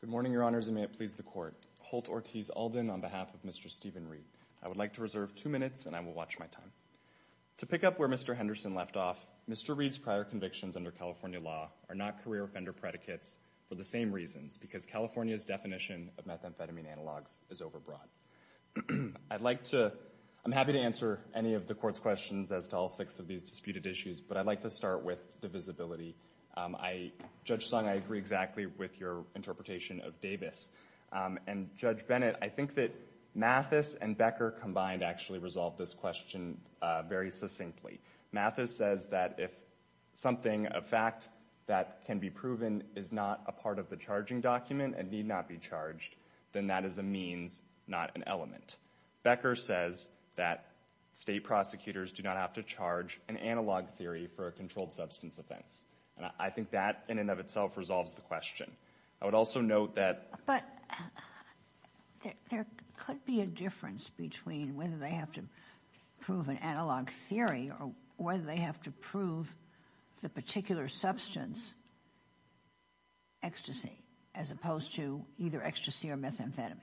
Good morning, Your Honors, and may it please the Court. Holt Ortiz Alden on behalf of Mr. Stephen Reid. I would like to reserve two minutes, and I will watch my time. To pick up where Mr. Henderson left off, Mr. Reid's prior convictions under California law are not career offender predicates for the same reasons, because California's definition of methamphetamine analogs is overbroad. I'm happy to answer any of the Court's questions as to all six of these disputed issues, but I'd like to start with divisibility. Judge Sung, I agree exactly with your interpretation of Davis. And Judge Bennett, I think that Mathis and Becker combined actually resolved this question very succinctly. Mathis says that if something, a fact, that can be proven is not a part of the charging document and need not be charged, then that is a means, not an element. Becker says that state prosecutors do not have to charge an analog theory for a controlled substance offense. And I think that, in and of itself, resolves the question. I would also note that— But there could be a difference between whether they have to prove an analog theory or whether they have to prove the particular substance, ecstasy, as opposed to either ecstasy or methamphetamine.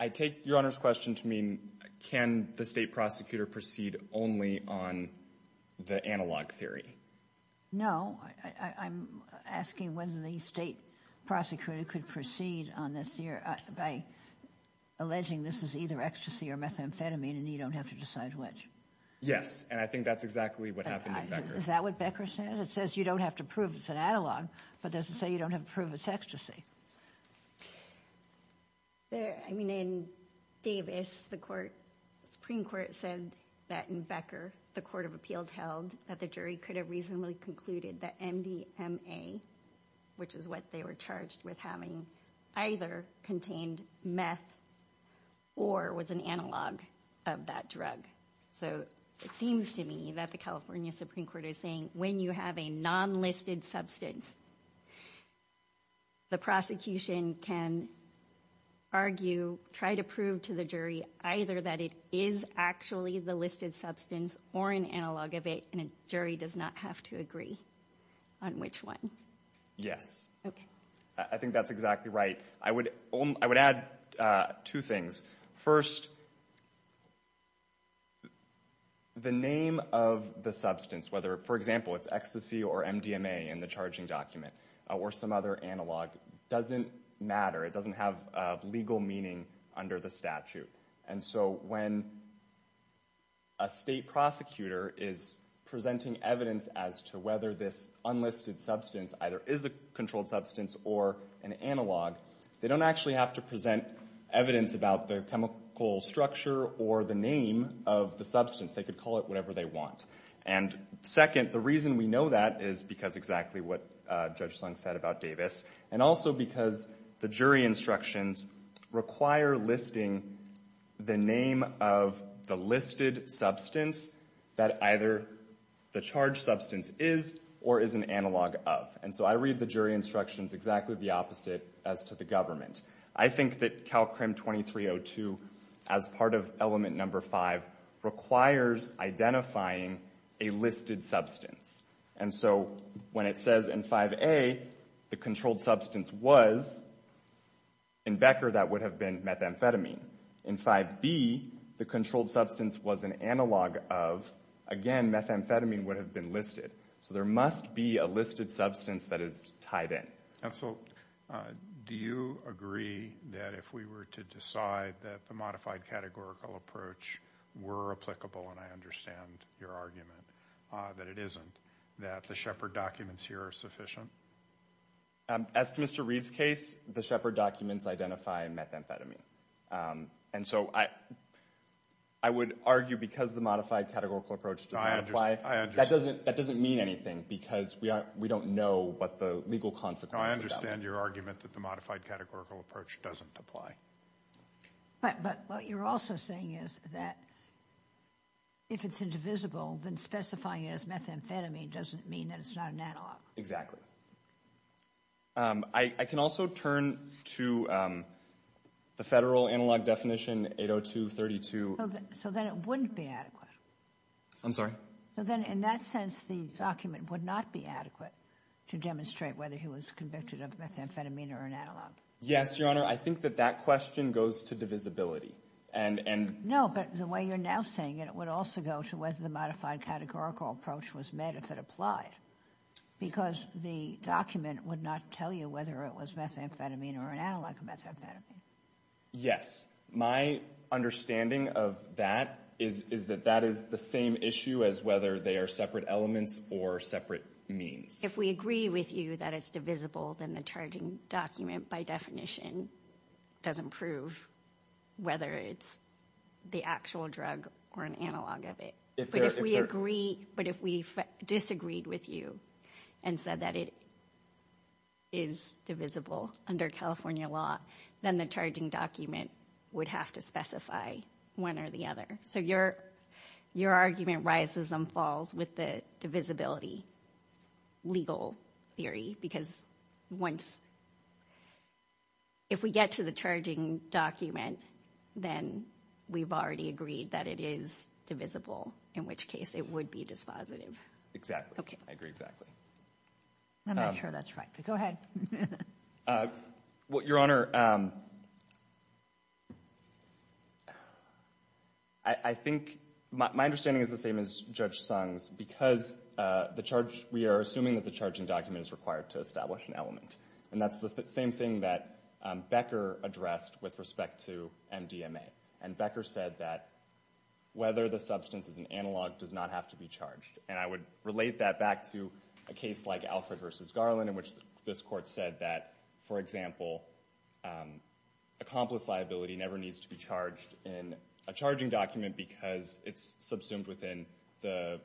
I take Your Honor's question to mean, can the state prosecutor proceed only on the analog theory? No. I'm asking whether the state prosecutor could proceed on this theory by alleging this is either ecstasy or methamphetamine and you don't have to decide which. Yes. And I think that's exactly what happened in Becker's case. Is that what Becker says? It says you don't have to prove it's an analog, but doesn't say you don't have to prove it's ecstasy. I mean, in Davis, the Supreme Court said that in Becker, the Court of Appeals held that the jury could have reasonably concluded that MDMA, which is what they were charged with having, either contained meth or was an analog of that drug. So it seems to me that the California Supreme Court is saying when you have a non-listed substance, the prosecution can argue, try to prove to the jury either that it is actually the listed substance or an analog of it, and a jury does not have to agree on which one. Yes. Okay. I think that's exactly right. I would add two things. First, the name of the substance, whether, for example, it's ecstasy or MDMA in the charging document, or some other analog, doesn't matter. It doesn't have legal meaning under the statute. And so when a state prosecutor is presenting evidence as to whether this unlisted substance either is a controlled substance or an analog, they don't actually have to present evidence about the chemical structure or the name of the substance. They could call it whatever they want. And second, the reason we know that is because exactly what Judge Slung said about Davis, and also because the jury instructions require listing the name of the listed substance that either the charged substance is or is an analog of. And so I read the jury instructions exactly the opposite as to the government. I think that CalCRM 2302, as part of element number 5, requires identifying a listed substance. And so when it says in 5A, the controlled substance was, in Becker, that would have been methamphetamine. In 5B, the controlled substance was an analog of, again, methamphetamine would have been listed. So there must be a listed substance that is tied in. And so do you agree that if we were to decide that the modified categorical approach were applicable, and I understand your argument that it isn't, that the Shepard documents here are sufficient? As to Mr. Reed's case, the Shepard documents identify methamphetamine. And so I would argue because the modified categorical approach doesn't apply, that doesn't mean anything because we don't know what the legal consequences of that would be. I understand your argument that the modified categorical approach doesn't apply. But what you're also saying is that if it's indivisible, then specifying it as methamphetamine doesn't mean that it's not an analog. Exactly. I can also turn to the federal analog definition, 802.32. So then it wouldn't be adequate? I'm sorry? So then in that sense, the document would not be adequate to demonstrate whether he was convicted of methamphetamine or an analog? Yes, Your Honor. I think that that question goes to divisibility. No, but the way you're now saying it, it would also go to whether the modified categorical approach was met if it applied, because the document would not tell you whether it was methamphetamine or an analog of methamphetamine. Yes. My understanding of that is that that is the same issue as whether they are separate elements or separate means. If we agree with you that it's divisible, then the charging document by definition doesn't prove whether it's the actual drug or an analog of it. But if we agree, but if we disagreed with you and said that it is divisible under California law, then the charging document would have to specify one or the other. So your argument rises and falls with the divisibility legal theory, because if we get to the charging document, then we've already agreed that it is divisible, in which case it would be dispositive. Exactly. I agree exactly. I'm not sure that's right, but go ahead. Well, Your Honor, I think my understanding is the same as Judge Sung's, because the charge, we are assuming that the charging document is required to establish an element. And that's the same thing that Becker addressed with respect to MDMA. And Becker said that whether the substance is an analog does not have to be charged. And I would relate that back to a case like Alfred v. Garland, in which this court said that, for example, accomplice liability never needs to be charged in a charging document because it's subsumed within the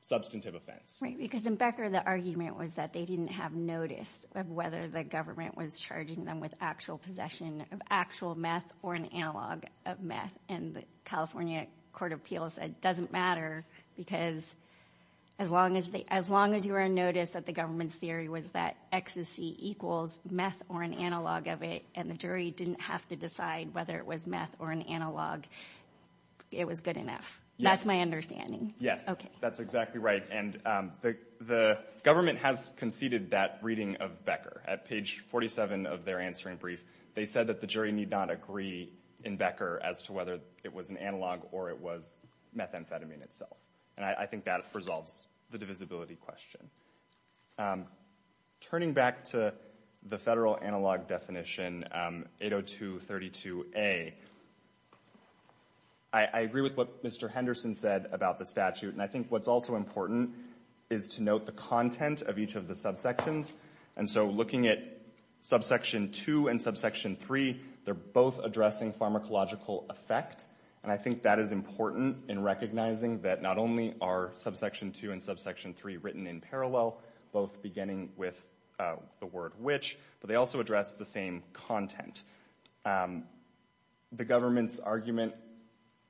substantive offense. Right, because in Becker, the argument was that they didn't have notice of whether the government was charging them with actual possession of actual meth or an analog of meth. And the California Court of Appeals said it doesn't matter, because as long as you were in notice that the government's theory was that ecstasy equals meth or an analog of it, and the jury didn't have to decide whether it was meth or an analog, it was good enough. That's my understanding. Yes. Okay. That's exactly right. And the government has conceded that reading of Becker. At page 47 of their answering brief, they said that the jury need not agree in Becker as to whether it was an analog or it was methamphetamine itself. And I think that resolves the divisibility question. Turning back to the federal analog definition, 802.32a, I agree with what Mr. Henderson said about the statute. And I think what's also important is to note the content of each of the subsections. And so looking at subsection 2 and subsection 3, they're both addressing pharmacological effect. And I think that is important in recognizing that not only are subsection 2 and subsection 3 written in parallel, both beginning with the word which, but they also address the same content. And the government's argument,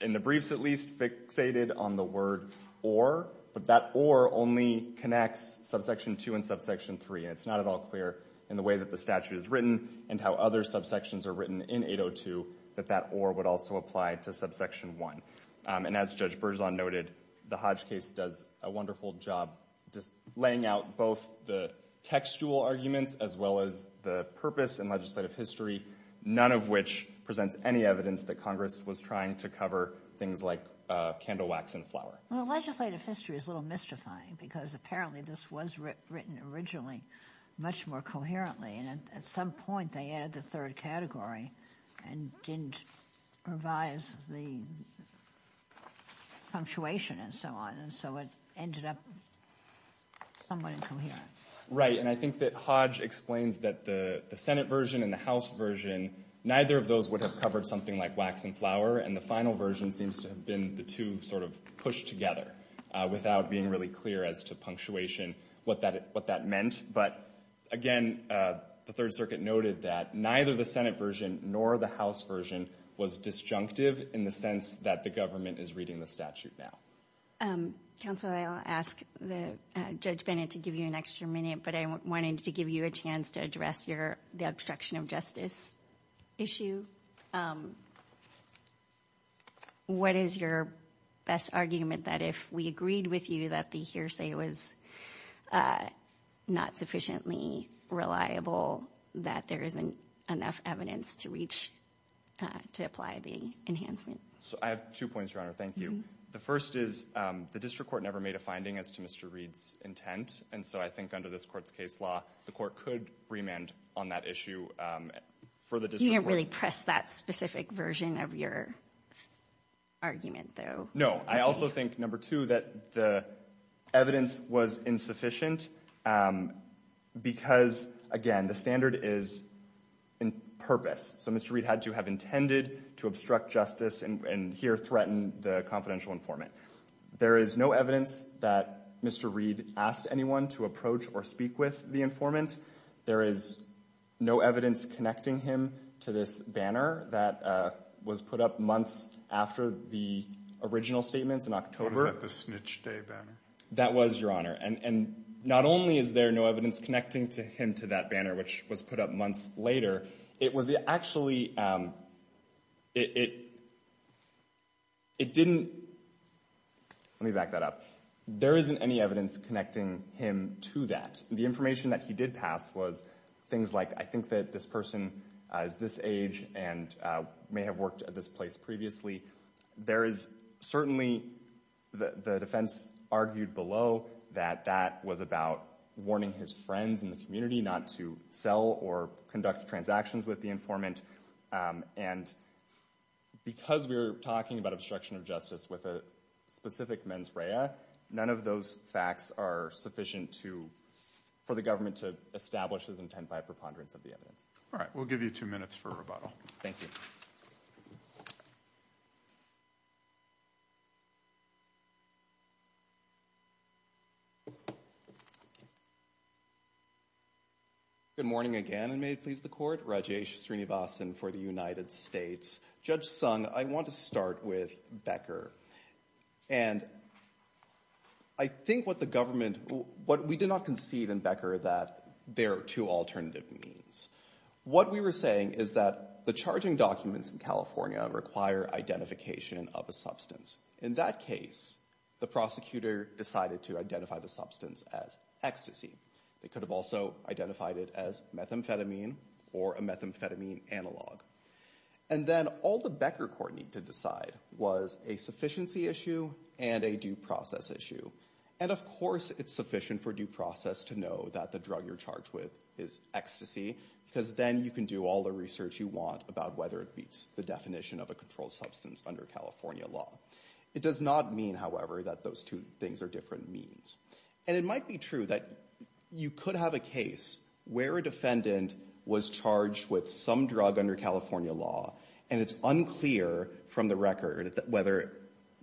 in the briefs at least, fixated on the word or, but that or only connects subsection 2 and subsection 3. And it's not at all clear in the way that the statute is written and how other subsections are written in 802 that that or would also apply to subsection 1. And as Judge Berzon noted, the Hodge case does a wonderful job just laying out both the textual arguments as well as the purpose and legislative history, none of which presents any evidence that Congress was trying to cover things like candle wax and flour. Well, legislative history is a little mystifying because apparently this was written originally much more coherently. And at some point, they added the third category and didn't revise the punctuation and so on. And so it ended up somewhat incoherent. Right. And I think that Hodge explains that the Senate version and the House version, neither of those would have covered something like wax and flour. And the final version seems to have been the two sort of pushed together without being really clear as to punctuation what that meant. But again, the Third Circuit noted that neither the Senate version nor the House version was disjunctive in the sense that the government is reading the statute now. Counsel, I'll ask Judge Bennett to give you an extra minute, but I wanted to give you a chance to address the obstruction of justice issue. What is your best argument that if we agreed with you that the hearsay was not sufficiently reliable, that there isn't enough evidence to reach, to apply the enhancement? So I have two points, Your Honor. Thank you. The first is the district court never made a finding as to Mr. Reed's intent. And so I think under this court's case law, the court could remand on that issue for the district court. You didn't really press that specific version of your argument, though. No. I also think, number two, that the evidence was insufficient because, again, the standard is in purpose. So Mr. Reed had to have intended to obstruct justice and here threaten the confidential informant. There is no evidence that Mr. Reed asked anyone to approach or speak with the informant. There is no evidence connecting him to this banner that was put up months after the original statements in October. What about the snitch day banner? That was, Your Honor. And not only is there no evidence connecting him to that banner, which was put up months later, it was actually, it didn't, let me back that up. There isn't any evidence connecting him to that. The information that he did pass was things like, I think that this person is this age and may have worked at this place previously. There is certainly, the defense argued below that that was about warning his friends in the community not to sell or conduct transactions with the informant. And because we're talking about obstruction of justice with a specific mens rea, none of those facts are sufficient to, for the government to establish his intent by a preponderance of the evidence. All right. We'll give you two minutes for rebuttal. Thank you. Good morning again, and may it please the court, Rajesh Srinivasan for the United States. Judge Sung, I want to start with Becker. And I think what the government, what we did not concede in Becker that there are two alternative means. What we were saying is that the charging documents in California require identification of a In that case, the prosecutor decided to identify the substance as ecstasy. They could have also identified it as methamphetamine or a methamphetamine analog. And then all the Becker court needed to decide was a sufficiency issue and a due process issue. And of course, it's sufficient for due process to know that the drug you're charged with is ecstasy because then you can do all the research you want about whether it meets the definition of a controlled substance under California law. It does not mean, however, that those two things are different means. And it might be true that you could have a case where a defendant was charged with some drug under California law, and it's unclear from the record whether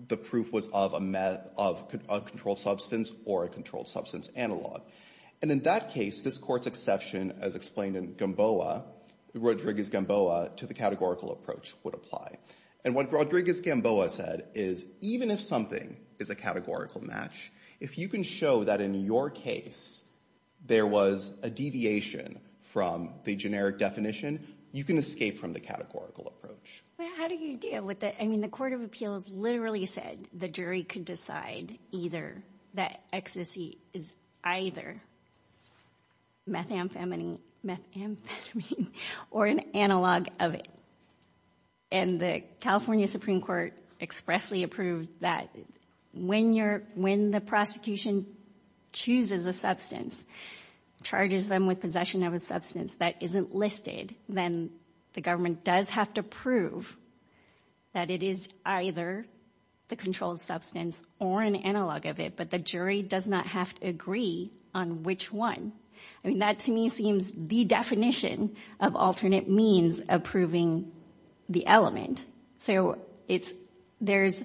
the proof was of a controlled substance or a controlled substance analog. And in that case, this court's exception, as explained in Gamboa, Rodriguez-Gamboa, to the categorical approach would apply. And what Rodriguez-Gamboa said is even if something is a categorical match, if you can show that in your case there was a deviation from the generic definition, you can escape from the categorical approach. But how do you deal with it? I mean, the court of appeals literally said the jury could decide either that ecstasy is either methamphetamine or an analog of it. And the California Supreme Court expressly approved that when the prosecution chooses a substance, charges them with possession of a substance that isn't listed, then the government does have to prove that it is either the controlled substance or an analog of it. But the jury does not have to agree on which one. I mean, that to me seems the definition of alternate means of proving the element. So it's, there's,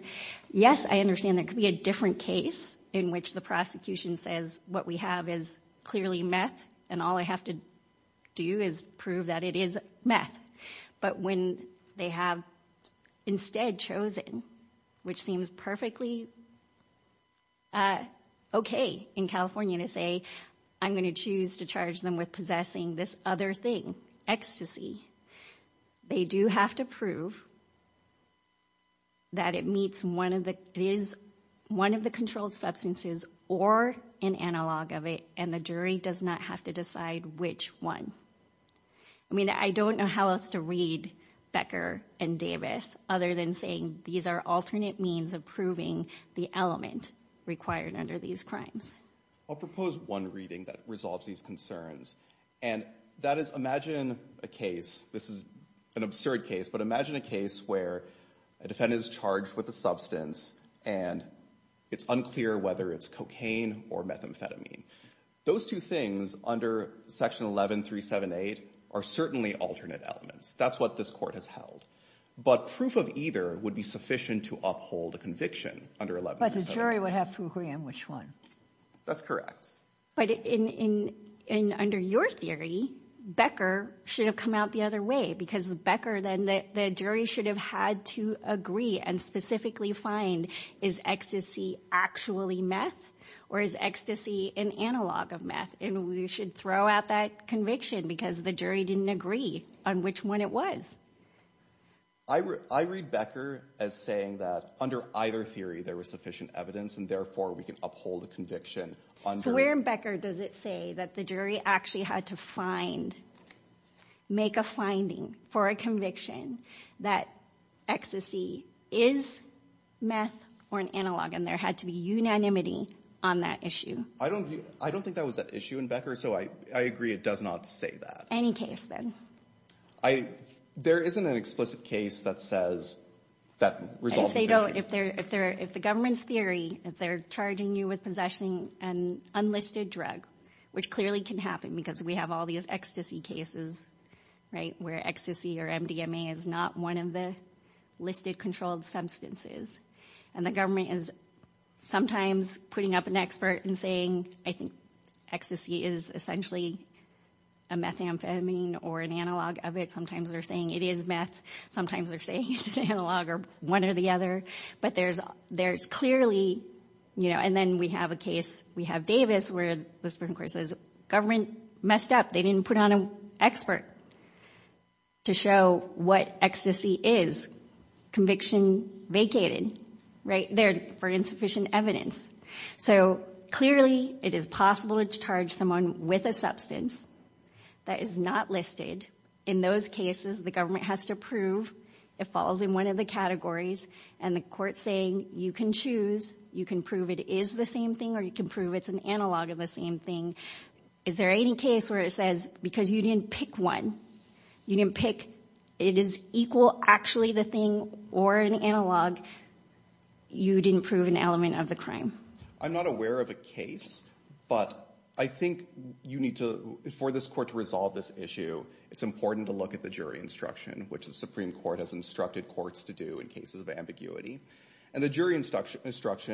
yes, I understand there could be a different case in which the prosecution says what we have is clearly meth, and all I have to do is prove that it is meth. But when they have instead chosen, which seems perfectly okay in California to say, I'm going to choose to charge them with possessing this other thing, ecstasy, they do have to prove that it meets one of the, it is one of the controlled substances or an analog of it, and the jury does not have to decide which one. I mean, I don't know how else to read Becker and Davis other than saying these are alternate means of proving the element required under these crimes. I'll propose one reading that resolves these concerns. And that is, imagine a case, this is an absurd case, but imagine a case where a defendant is charged with a substance and it's unclear whether it's cocaine or methamphetamine. Those two things under Section 11378 are certainly alternate elements. That's what this Court has held. But proof of either would be sufficient to uphold a conviction under 11378. But the jury would have to agree on which one. That's correct. But in, in, in, under your theory, Becker should have come out the other way, because with Becker, then the, the jury should have had to agree and specifically find, is ecstasy actually meth, or is ecstasy an analog of meth? And we should throw out that conviction because the jury didn't agree on which one it was. I read, I read Becker as saying that under either theory, there was sufficient evidence, and therefore we can uphold a conviction. So where in Becker does it say that the jury actually had to find, make a finding for a conviction that ecstasy is meth or an analog, and there had to be unanimity on that issue? I don't, I don't think that was an issue in Becker, so I, I agree it does not say that. Any case, then? I, there isn't an explicit case that says that resolves the issue. If they're, if they're, if the government's theory, if they're charging you with possessing an unlisted drug, which clearly can happen because we have all these ecstasy cases, right, where ecstasy or MDMA is not one of the listed controlled substances, and the government is sometimes putting up an expert and saying, I think ecstasy is essentially a methamphetamine or an analog of it. Sometimes they're saying it is meth. Sometimes they're saying it's an analog or one or the other, but there's, there's clearly, you know, and then we have a case, we have Davis where the Supreme Court says, government messed up. They didn't put on an expert to show what ecstasy is. Conviction vacated, right, there for insufficient evidence. So clearly it is possible to charge someone with a substance that is not listed. In those cases, the government has to prove it falls in one of the categories, and the court saying you can choose, you can prove it is the same thing, or you can prove it's an analog of the same thing. Is there any case where it says, because you didn't pick one, you didn't pick, it is equal actually the thing or an analog, you didn't prove an element of the crime? I'm not aware of a case, but I think you need to, for this court to resolve this issue, it's important to look at the jury instruction, which the Supreme Court has instructed courts to do in cases of ambiguity, and the jury instruction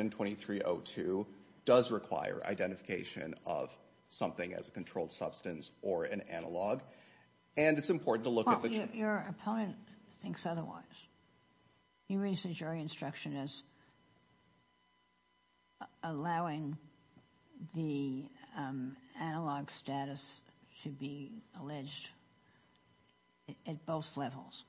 2302 does require identification of something as a controlled substance or an analog, and it's important to look at the jury. Your opponent thinks otherwise. You raise the jury instruction as allowing the analog status to be alleged at both levels.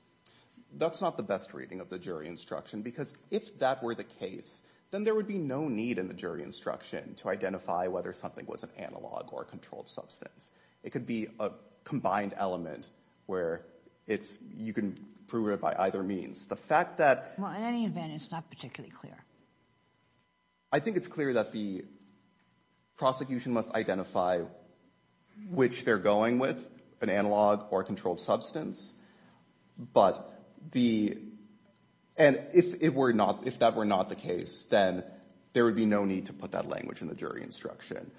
That's not the best reading of the jury instruction, because if that were the case, then there would be no need in the jury instruction to identify whether something was an analog or a controlled substance. It could be a combined element where it's, you can prove it by either means. The fact that. Well, in any event, it's not particularly clear. I think it's clear that the prosecution must identify which they're going with, an analog or a controlled substance, and if that were not the case, then there would be no need to put that language in the jury instruction.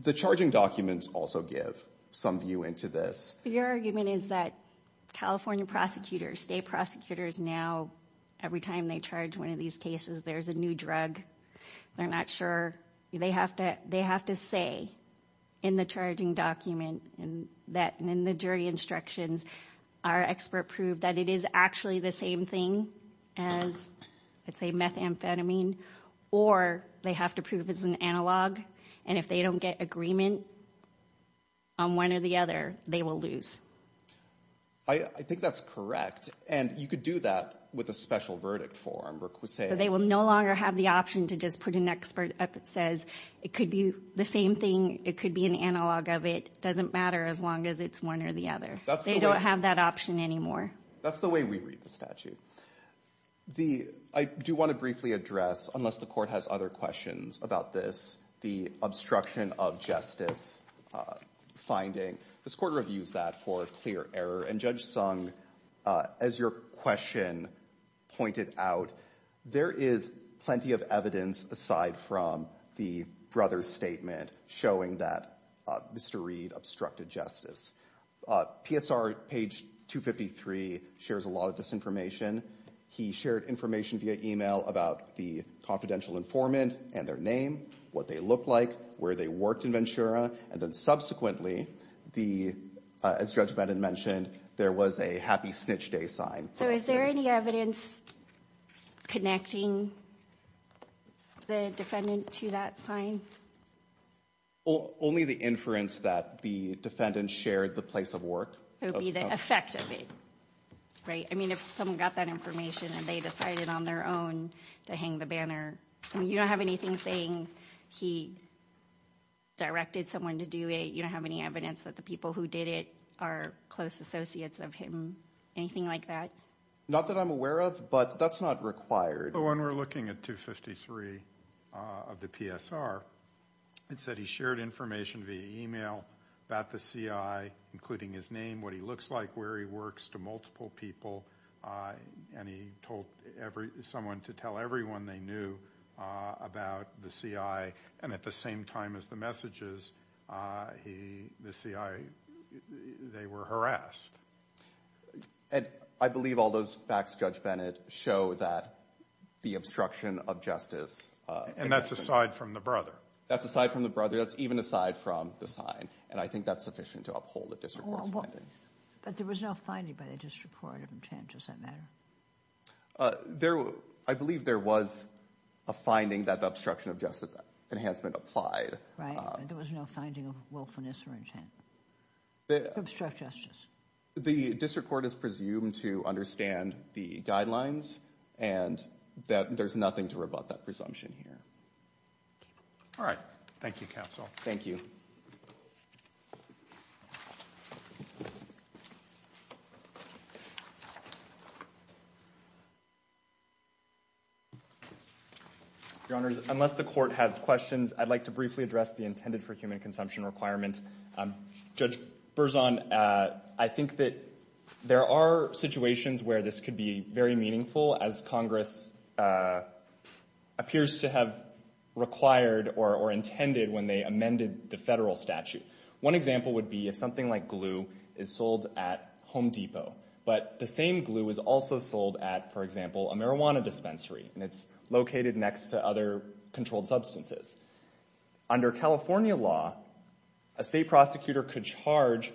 The charging documents also give some view into this. Your argument is that California prosecutors, state prosecutors now, every time they charge one of these cases, there's a new drug. They're not sure. They have to say in the charging document and in the jury instructions, our expert proved that it is actually the same thing as, let's say, methamphetamine, or they have to prove it's an analog, and if they don't get agreement on one or the other, they will lose. I think that's correct, and you could do that with a special verdict for them. They will no longer have the option to just put an expert up that says it could be the same thing. It could be an analog of it. It doesn't matter as long as it's one or the other. They don't have that option anymore. That's the way we read the statute. I do want to briefly address, unless the court has other questions about this, the obstruction of justice finding. This court reviews that for clear error, and Judge Sung, as your question pointed out, there is plenty of evidence aside from the brother's statement showing that Mr. Reed obstructed justice. PSR page 253 shares a lot of this information. He shared information via email about the confidential informant and their name, what they looked like, where they worked in Ventura, and then subsequently, as Judge Bennett mentioned, there was a happy snitch day sign. So is there any evidence connecting the defendant to that sign? Only the inference that the defendant shared the place of work. It would be the effect of it, right? I mean, if someone got that information, and they decided on their own to hang the banner, and you don't have anything saying he directed someone to do it, you don't have any evidence that the people who did it are close associates of him, anything like that? Not that I'm aware of, but that's not required. When we're looking at 253 of the PSR, it said he shared information via email about the CI, including his name, what he looks like, where he works to multiple people, and he told someone to tell everyone they knew about the CI, and at the same time as the messages, he, the CI, they were harassed. And I believe all those facts, Judge Bennett, show that the obstruction of justice... And that's aside from the brother. That's aside from the brother. That's even aside from the sign, and I think that's sufficient to uphold the disreport's finding. But there was no finding by the disreport of him, Chan, does that matter? I believe there was a finding that the obstruction of justice enhancement applied. Right, there was no finding of willfulness or intent to obstruct justice. The district court is presumed to understand the guidelines, and that there's nothing to rebut that presumption here. All right. Thank you, counsel. Thank you. Your honors, unless the court has questions, I'd like to briefly address the intended for human consumption requirement. Judge Berzon, I think that there are situations where this could be very meaningful, as Congress appears to have required or intended when they amended the federal statute. One example would be if something like glue is sold at Home Depot, but the same glue is also sold at, for example, a marijuana dispensary, and it's located next to other controlled substances. Under California law, a state prosecutor could charge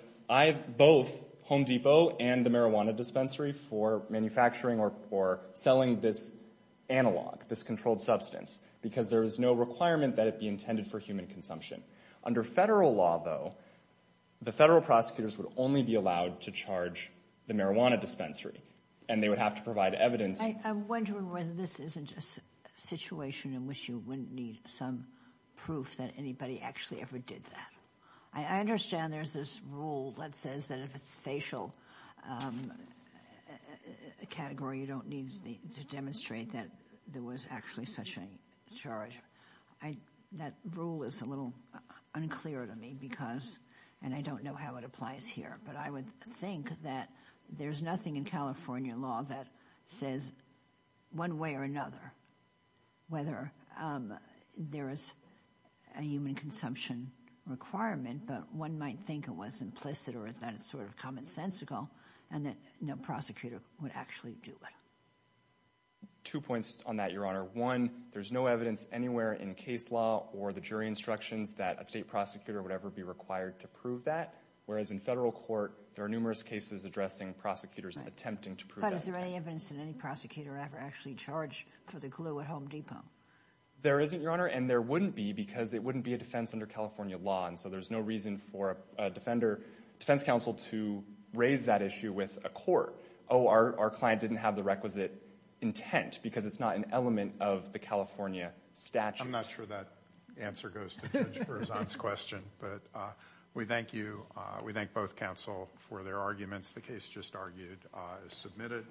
both Home Depot and the marijuana dispensary for manufacturing or selling this analog, this controlled substance, because there is no requirement that it be intended for human consumption. Under federal law, though, the federal prosecutors would only be allowed to charge the marijuana dispensary, and they would have to provide evidence. I'm wondering whether this isn't a situation in which you wouldn't need some proof that anybody actually ever did that. I understand there's this rule that says that if it's facial category, you don't need to demonstrate that there was actually such a charge. That rule is a little unclear to me because, and I don't know how it applies here, but I would think that there's nothing in California law that says one way or another, whether there is a human consumption requirement, but one might think it was implicit or that it's sort of commonsensical, and that no prosecutor would actually do it. Two points on that, Your Honor. One, there's no evidence anywhere in case law or the jury instructions that a state prosecutor would ever be required to prove that, whereas in federal court, there are numerous cases addressing prosecutors attempting to prove that. But is there any evidence that any prosecutor ever actually charged for the glue at Home Depot? There isn't, Your Honor, and there wouldn't be because it wouldn't be a defense under California law, and so there's no reason for a defense counsel to raise that issue with a court. Oh, our client didn't have the requisite intent because it's not an element of the California statute. I'm not sure that answer goes to Judge Berzon's question, but we thank both counsel for their arguments. The case just argued is submitted.